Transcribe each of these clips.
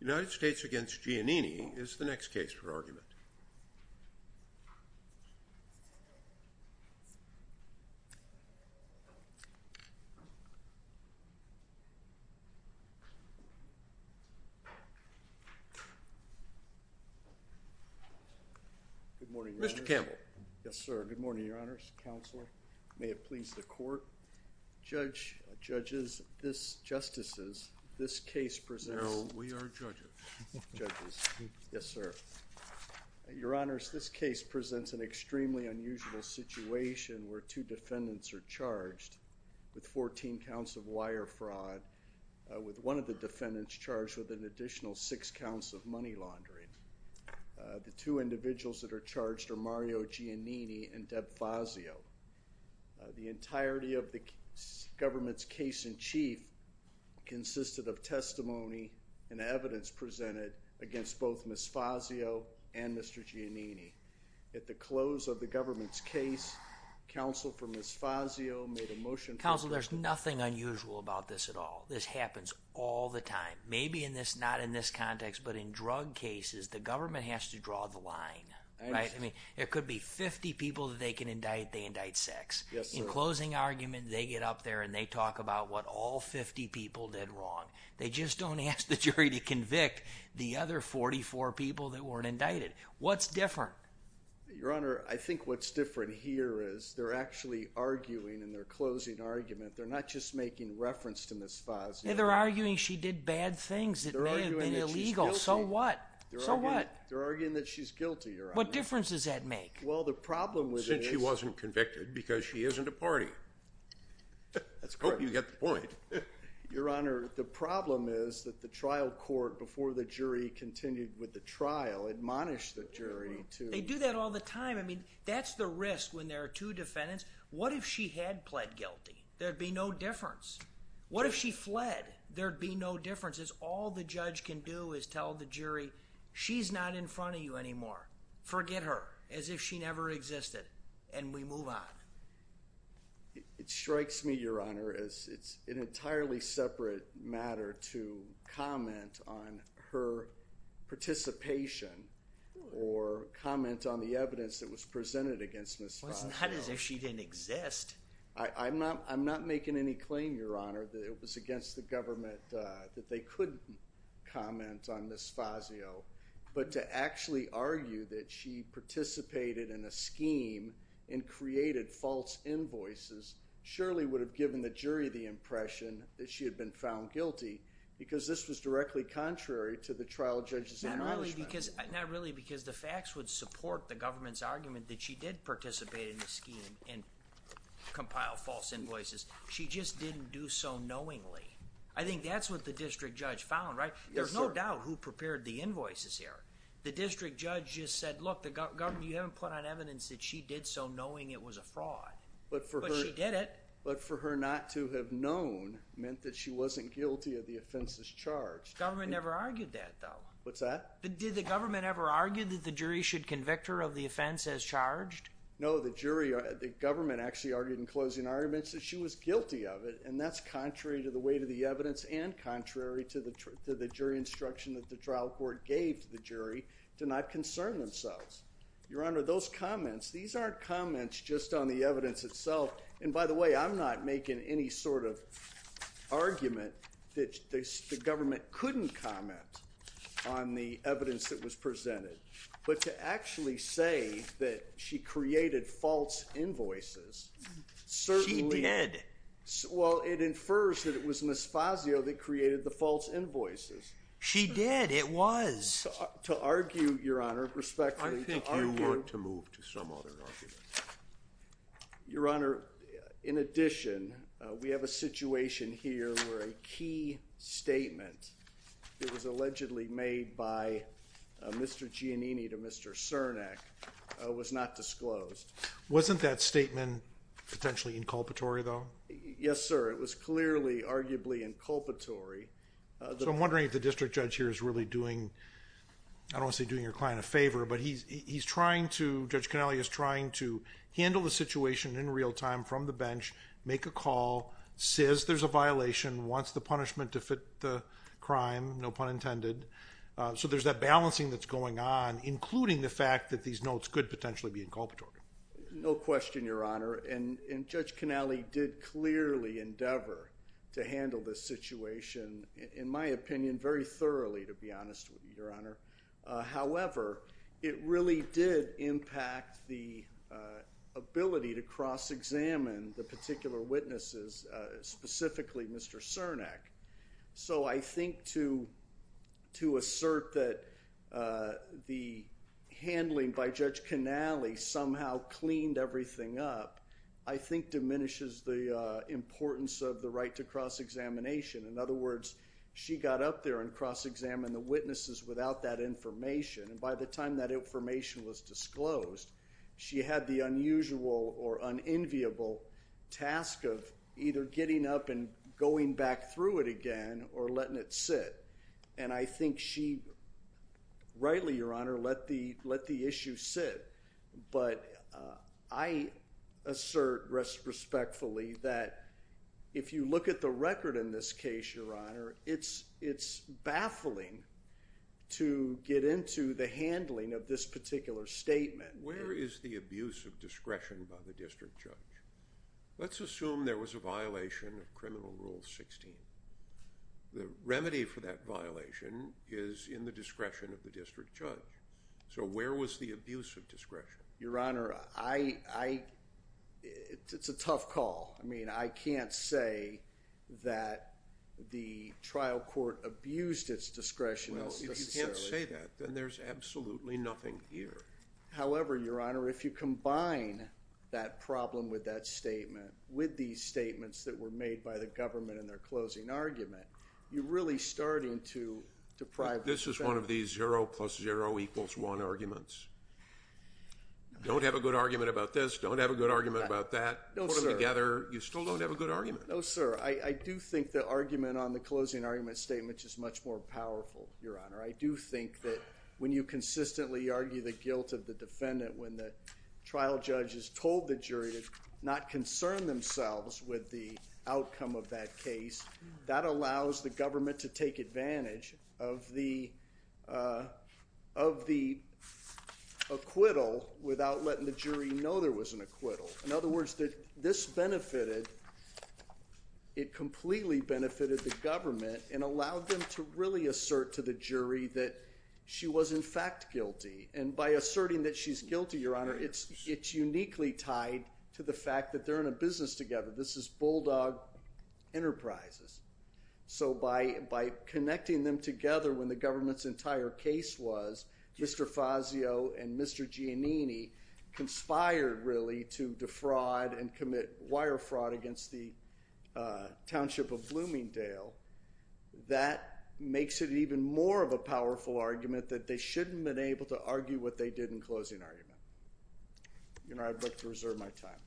United States v. Giannini is the next case for argument. Mr. Campbell. Yes, sir. Good morning, Your Honors, Counselor. May it please the Court, Judge, Judges, Justices, this case presents... No, we are judges. Judges. Yes, sir. Your Honors, this case presents an extremely unusual situation where two defendants are charged with 14 counts of wire fraud, with one of the defendants charged with an additional six counts of money laundering. The two individuals that are charged are Mario Giannini and Deb Fazio. The entirety of the government's case in chief consisted of testimony and evidence presented against both Ms. Fazio and Mr. Giannini. At the close of the government's case, counsel for Ms. Fazio made a motion... Counsel, there's nothing unusual about this at all. This happens all the time. Maybe not in this context, but in drug cases, the government has to draw the line, right? I mean, it could be 50 people that they can indict, they indict sex. In closing argument, they get up there and they talk about what all 50 people did wrong. They just don't ask the jury to convict the other 44 people that weren't indicted. What's different? Your Honor, I think what's different here is they're actually arguing in their closing argument, they're not just making reference to Ms. Fazio. They're arguing she did bad things that may have been illegal. So what? So what? They're arguing that she's guilty, Your Honor. What difference does that make? Well, the problem with it is... Since she wasn't convicted because she isn't a party. That's correct. I hope you get the point. Your Honor, the problem is that the trial court before the jury continued with the trial admonished the jury to... They do that all the time. I mean, that's the risk when there are two defendants. What if she had pled guilty? There'd be no difference. What if she fled? There'd be no difference. All the judge can do is tell the jury, she's not in front of you anymore. Forget her as if she never existed. And we move on. It strikes me, Your Honor, as it's an entirely separate matter to comment on her participation or comment on the evidence that was presented against Ms. Fazio. Well, it's not as if she didn't exist. I'm not making any claim, Your Honor, that it was against the government that they couldn't comment on Ms. Fazio. But to actually argue that she participated in a scheme and created false invoices surely would have given the jury the impression that she had been found guilty because this was directly contrary to the trial judge's admonishment. Not really because the facts would support the government's argument that she did participate in the scheme and she just didn't do so knowingly. I think that's what the district judge found, right? There's no doubt who prepared the invoices here. The district judge just said, look, you haven't put on evidence that she did so knowing it was a fraud. But she did it. But for her not to have known meant that she wasn't guilty of the offenses charged. Government never argued that, though. What's that? Did the government ever argue that the jury should convict her of the offense as charged? No, the government actually argued in closing contrary to the weight of the evidence and contrary to the jury instruction that the trial court gave to the jury to not concern themselves. Your Honor, those comments, these aren't comments just on the evidence itself. And by the way, I'm not making any sort of argument that the government couldn't comment on the evidence that was presented. But to actually say that she created false invoices certainly... She did. Well, it infers that it was Ms. Fazio that created the false invoices. She did. It was. To argue, Your Honor, respectfully... I think you ought to move to some other argument. Your Honor, in addition, we have a situation here where a key statement that was allegedly made by Mr. Giannini to Mr. Cernak was not disclosed. Wasn't that statement potentially inculpatory, though? Yes, sir. It was clearly arguably inculpatory. So I'm wondering if the district judge here is really doing, I don't want to say doing your client a favor, but he's trying to, Judge Connelly is trying to handle the situation in real time from the bench, make a call, says there's a violation, wants the punishment to fit the crime, no pun intended. So there's that balancing that's going on, including the fact that these notes could potentially be inculpatory. No question, Your Honor. And Judge Connelly did clearly endeavor to handle this situation, in my opinion, very thoroughly, to be honest with you, Your Honor. However, it really did impact the ability to cross-examine the particular witnesses, specifically Mr. Cernak. So I think to assert that the handling by Judge Connelly somehow cleaned everything up, I think diminishes the importance of the right to cross-examination. In other words, she got up there and cross-examined the witnesses without that information. And by the time that information was disclosed, she had the unusual or unenviable task of either getting up and going back through it again or letting it sit. And I think she rightly, Your Honor, let the issue sit. But I assert respectfully that if you look at the record in this case, Your Honor, it's baffling to get into the handling of this particular statement. Where is the abuse of discretion by the district judge? Let's assume there was a violation of Criminal Rule 16. The remedy for that violation is in the discretion of the district judge. So where was the abuse of discretion? Your Honor, it's a tough call. I mean, I can't say that the trial court abused its discretion. Well, if you can't say that, then there's absolutely nothing here. However, Your Honor, if you combine that problem with that statement, with these statements that were made by the government in their closing argument, you're really starting to deprive the defense. This is one of these 0 plus 0 equals 1 arguments. Don't have a good argument about this. Don't have a good argument about that. Put them together, you still don't have a good argument. No, sir. I do think the argument on the closing argument statement is much more powerful, Your Honor. I do think that when you consistently argue the guilt of the defendant when the trial judge has told the jury to not concern themselves with the outcome of that case, that allows the government to take advantage of the acquittal without letting the jury know there was an acquittal. In other words, that this benefited, it completely benefited the government and allowed them to really assert to the jury that she was in fact guilty. And by asserting that she's guilty, Your Honor, it's uniquely tied to the fact that they're in a business together. This is bulldog enterprises. So by connecting them together when the government's entire case was, Mr. Fazio and Mr. Giannini conspired really to defraud and commit wire fraud against the township of Bloomingdale, that makes it even more of a powerful argument that they shouldn't have been able to argue what they did in closing argument. Your Honor, I'd like to reserve my time.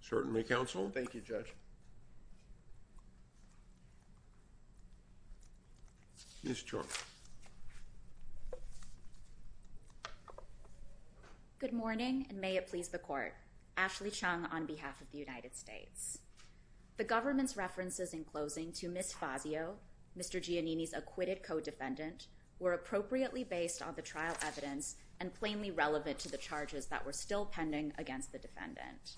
Certainly, counsel. Thank you, Judge. Ms. George. Good morning, and may it please the court. Ashley Chung on behalf of the United States. The government's references in closing to Ms. Fazio, Mr. Giannini's acquitted co-defendant, were appropriately based on the trial evidence and plainly relevant to the charges that were still pending against the defendant.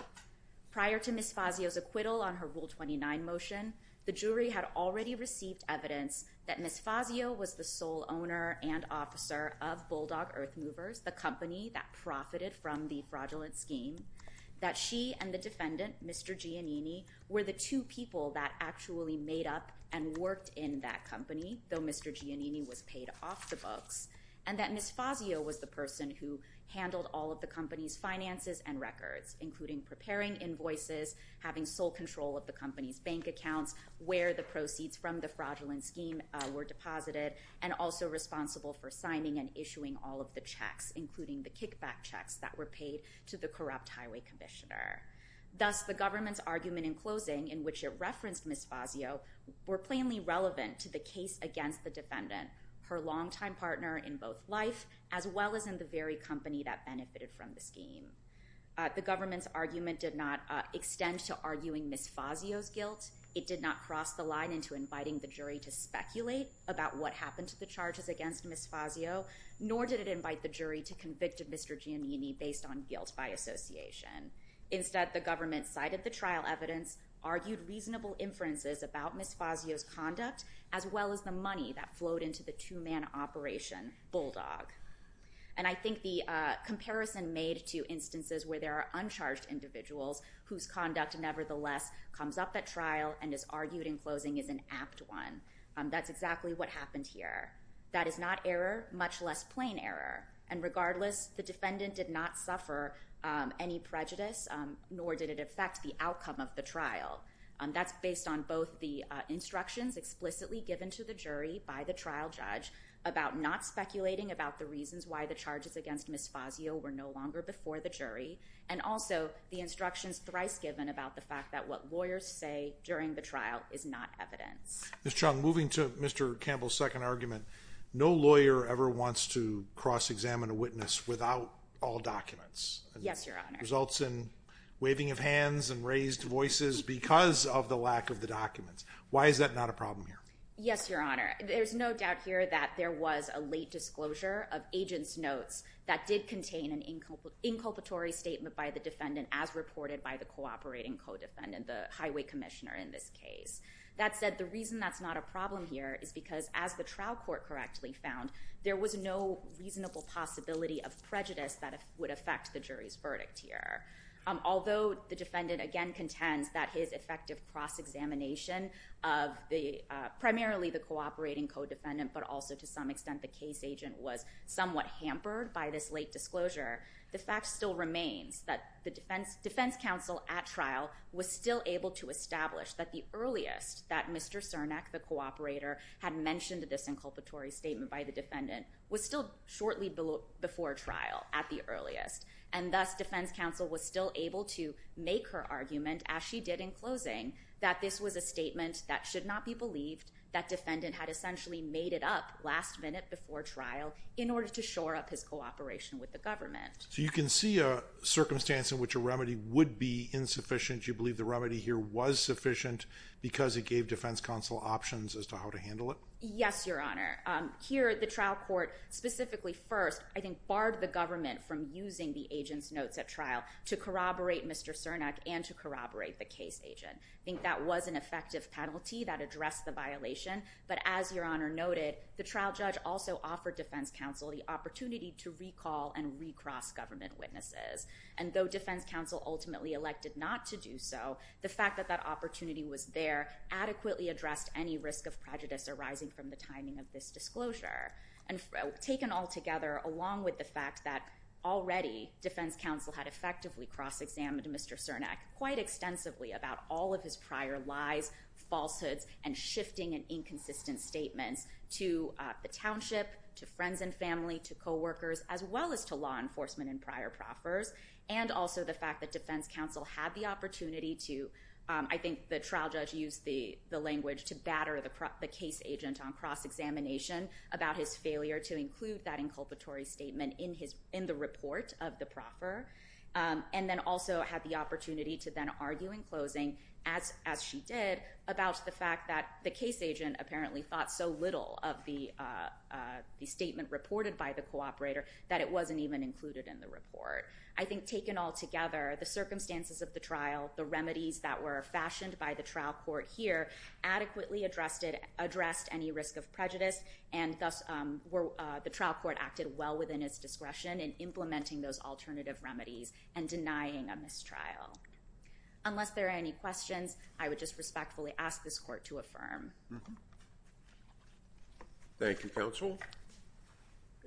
Prior to Ms. Fazio's acquittal on her Rule 29 motion, the jury had already received evidence that Ms. Fazio was the sole owner and officer of Bulldog Earthmovers, the company that profited from the fraudulent scheme, that she and the defendant, Mr. Giannini, were the two people that actually made up and worked in that company, though Mr. Giannini was paid off the books, and that Ms. Fazio was the person who handled all of the company's finances and records, including preparing invoices, having sole control of the company's bank accounts, where the proceeds from the fraudulent scheme were deposited, and also responsible for signing and issuing all of the checks, including the kickback checks that were paid to the corrupt highway commissioner. Thus, the government's argument in closing, in which it referenced Ms. Fazio, were plainly relevant to the case against the defendant, her longtime partner in both life, as well as in the very company that benefited from the scheme. The government's argument did not extend to arguing Ms. Fazio's guilt. It did not cross the line into inviting the jury to speculate about what happened to the charges against Ms. Fazio, nor did it invite the jury to convict Mr. Giannini based on guilt by association. Instead, the government cited the trial evidence, argued reasonable inferences about Ms. Fazio's And I think the comparison made to instances where there are uncharged individuals whose conduct nevertheless comes up at trial and is argued in closing is an apt one. That's exactly what happened here. That is not error, much less plain error. And regardless, the defendant did not suffer any prejudice, nor did it affect the outcome of the trial. That's based on both the instructions explicitly given to the jury by the trial judge about not speculating about the reasons why the charges against Ms. Fazio were no longer before the jury, and also the instructions thrice given about the fact that what lawyers say during the trial is not evidence. Ms. Chung, moving to Mr. Campbell's second argument, no lawyer ever wants to cross-examine a witness without all documents. Yes, Your Honor. Results in waving of hands and raised voices because of the lack of the documents. Why is that not a problem here? Yes, Your Honor. There's no doubt here that there was a late disclosure of agent's notes that did contain an inculpatory statement by the defendant as reported by the cooperating co-defendant, the highway commissioner in this case. That said, the reason that's not a problem here is because as the trial court correctly found, there was no reasonable possibility of prejudice that would affect the jury's verdict here. Although the defendant again primarily the cooperating co-defendant, but also to some extent the case agent was somewhat hampered by this late disclosure, the fact still remains that the defense counsel at trial was still able to establish that the earliest that Mr. Cernak, the cooperator, had mentioned this inculpatory statement by the defendant was still shortly before trial at the earliest. And thus, defense counsel was still able to make her argument, as she did in closing, that this was a statement that should not be believed, that defendant had essentially made it up last minute before trial in order to shore up his cooperation with the government. So you can see a circumstance in which a remedy would be insufficient. You believe the remedy here was sufficient because it gave defense counsel options as to how to handle it? Yes, Your Honor. Here, the trial court specifically first, I think, barred the government from using the agent's notes at trial to corroborate Mr. Cernak and to corroborate the case agent. I think that was an effective penalty that addressed the violation. But as Your Honor noted, the trial judge also offered defense counsel the opportunity to recall and recross government witnesses. And though defense counsel ultimately elected not to do so, the fact that that opportunity was there adequately addressed any risk of prejudice arising from the timing of this disclosure. And taken all together, along with the fact that already defense counsel had effectively cross-examined Mr. Cernak quite extensively about all of his prior lies, falsehoods, and shifting and inconsistent statements to the township, to friends and family, to coworkers, as well as to law enforcement and prior proffers, and also the fact that defense counsel had the opportunity to, I think the trial judge used the language, to batter the case agent on cross-examination about his failure to include that inculpatory statement in the report of the proffer, and then also had the opportunity to then argue in closing, as she did, about the fact that the case agent apparently thought so little of the statement reported by the cooperator that it wasn't even included in the report. I think taken all together, the circumstances of the trial, the remedies that were fashioned by the trial court here, adequately addressed any risk of prejudice, and thus the trial court acted well within its discretion in implementing those alternative remedies and denying a mistrial. Unless there are any questions, I would just respectfully ask this court to affirm. Thank you, counsel.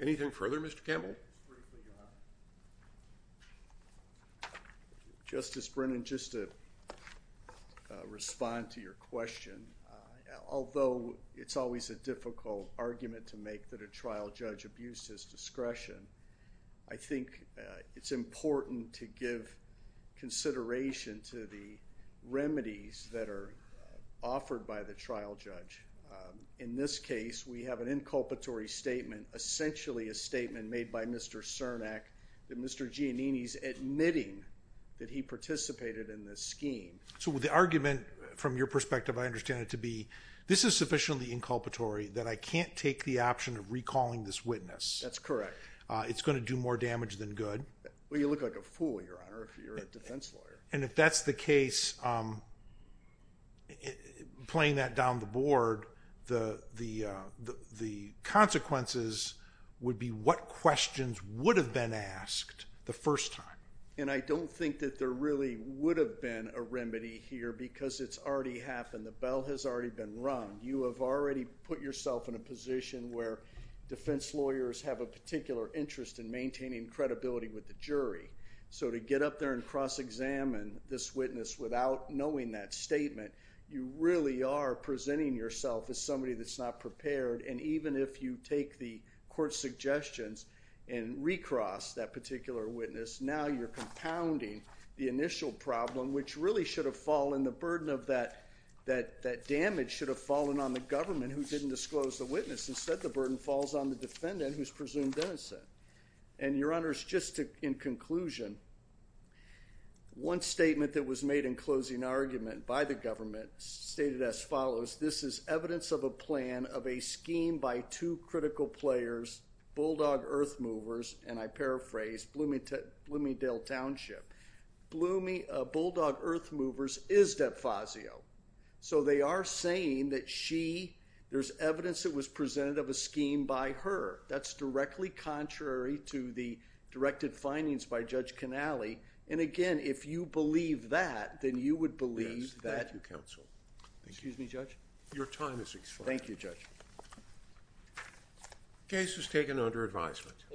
Anything further, Mr. Campbell? Just briefly, Your Honor. Justice Brennan, just to respond to your question, although it's always a difficult argument to make that a trial judge abused his discretion, I think it's important to give consideration to the remedies that are offered by the trial judge. In this case, we have an inculpatory statement, essentially a statement made by Mr. Cernak, that Mr. Giannini's admitting that he participated in this scheme. So the argument, from your perspective, I understand it to be, this is sufficiently inculpatory that I can't take the option of recalling this witness. That's correct. It's going to do more damage than good. Well, you look like a fool, Your Honor, if you're a defense lawyer. If that's the case, playing that down the board, the consequences would be what questions would have been asked the first time. I don't think that there really would have been a remedy here because it's already happened. The bell has already been rung. You have already put yourself in a position where defense lawyers have a particular interest in maintaining credibility with the jury. So to get up there and cross-examine this witness without knowing that statement, you really are presenting yourself as somebody that's not prepared. And even if you take the court's suggestions and recross that particular witness, now you're compounding the initial problem, which really should have fallen. The burden of that damage should have fallen on the government, who didn't disclose the witness. Instead, the burden falls on the defendant, who's presumed innocent. And, Your Honors, just in conclusion, one statement that was made in closing argument by the government stated as follows. This is evidence of a plan of a scheme by two critical players, Bulldog Earthmovers, and I paraphrase, Bloomingdale Township. Bulldog Earthmovers is Depfazio. So they are saying that she, there's evidence that was presented of a scheme by her. That's directly contrary to the directed findings by Judge Canale. And, again, if you believe that, then you would believe that. Thank you, Counsel. Excuse me, Judge? Your time is expired. Thank you, Judge. Case is taken under advisement.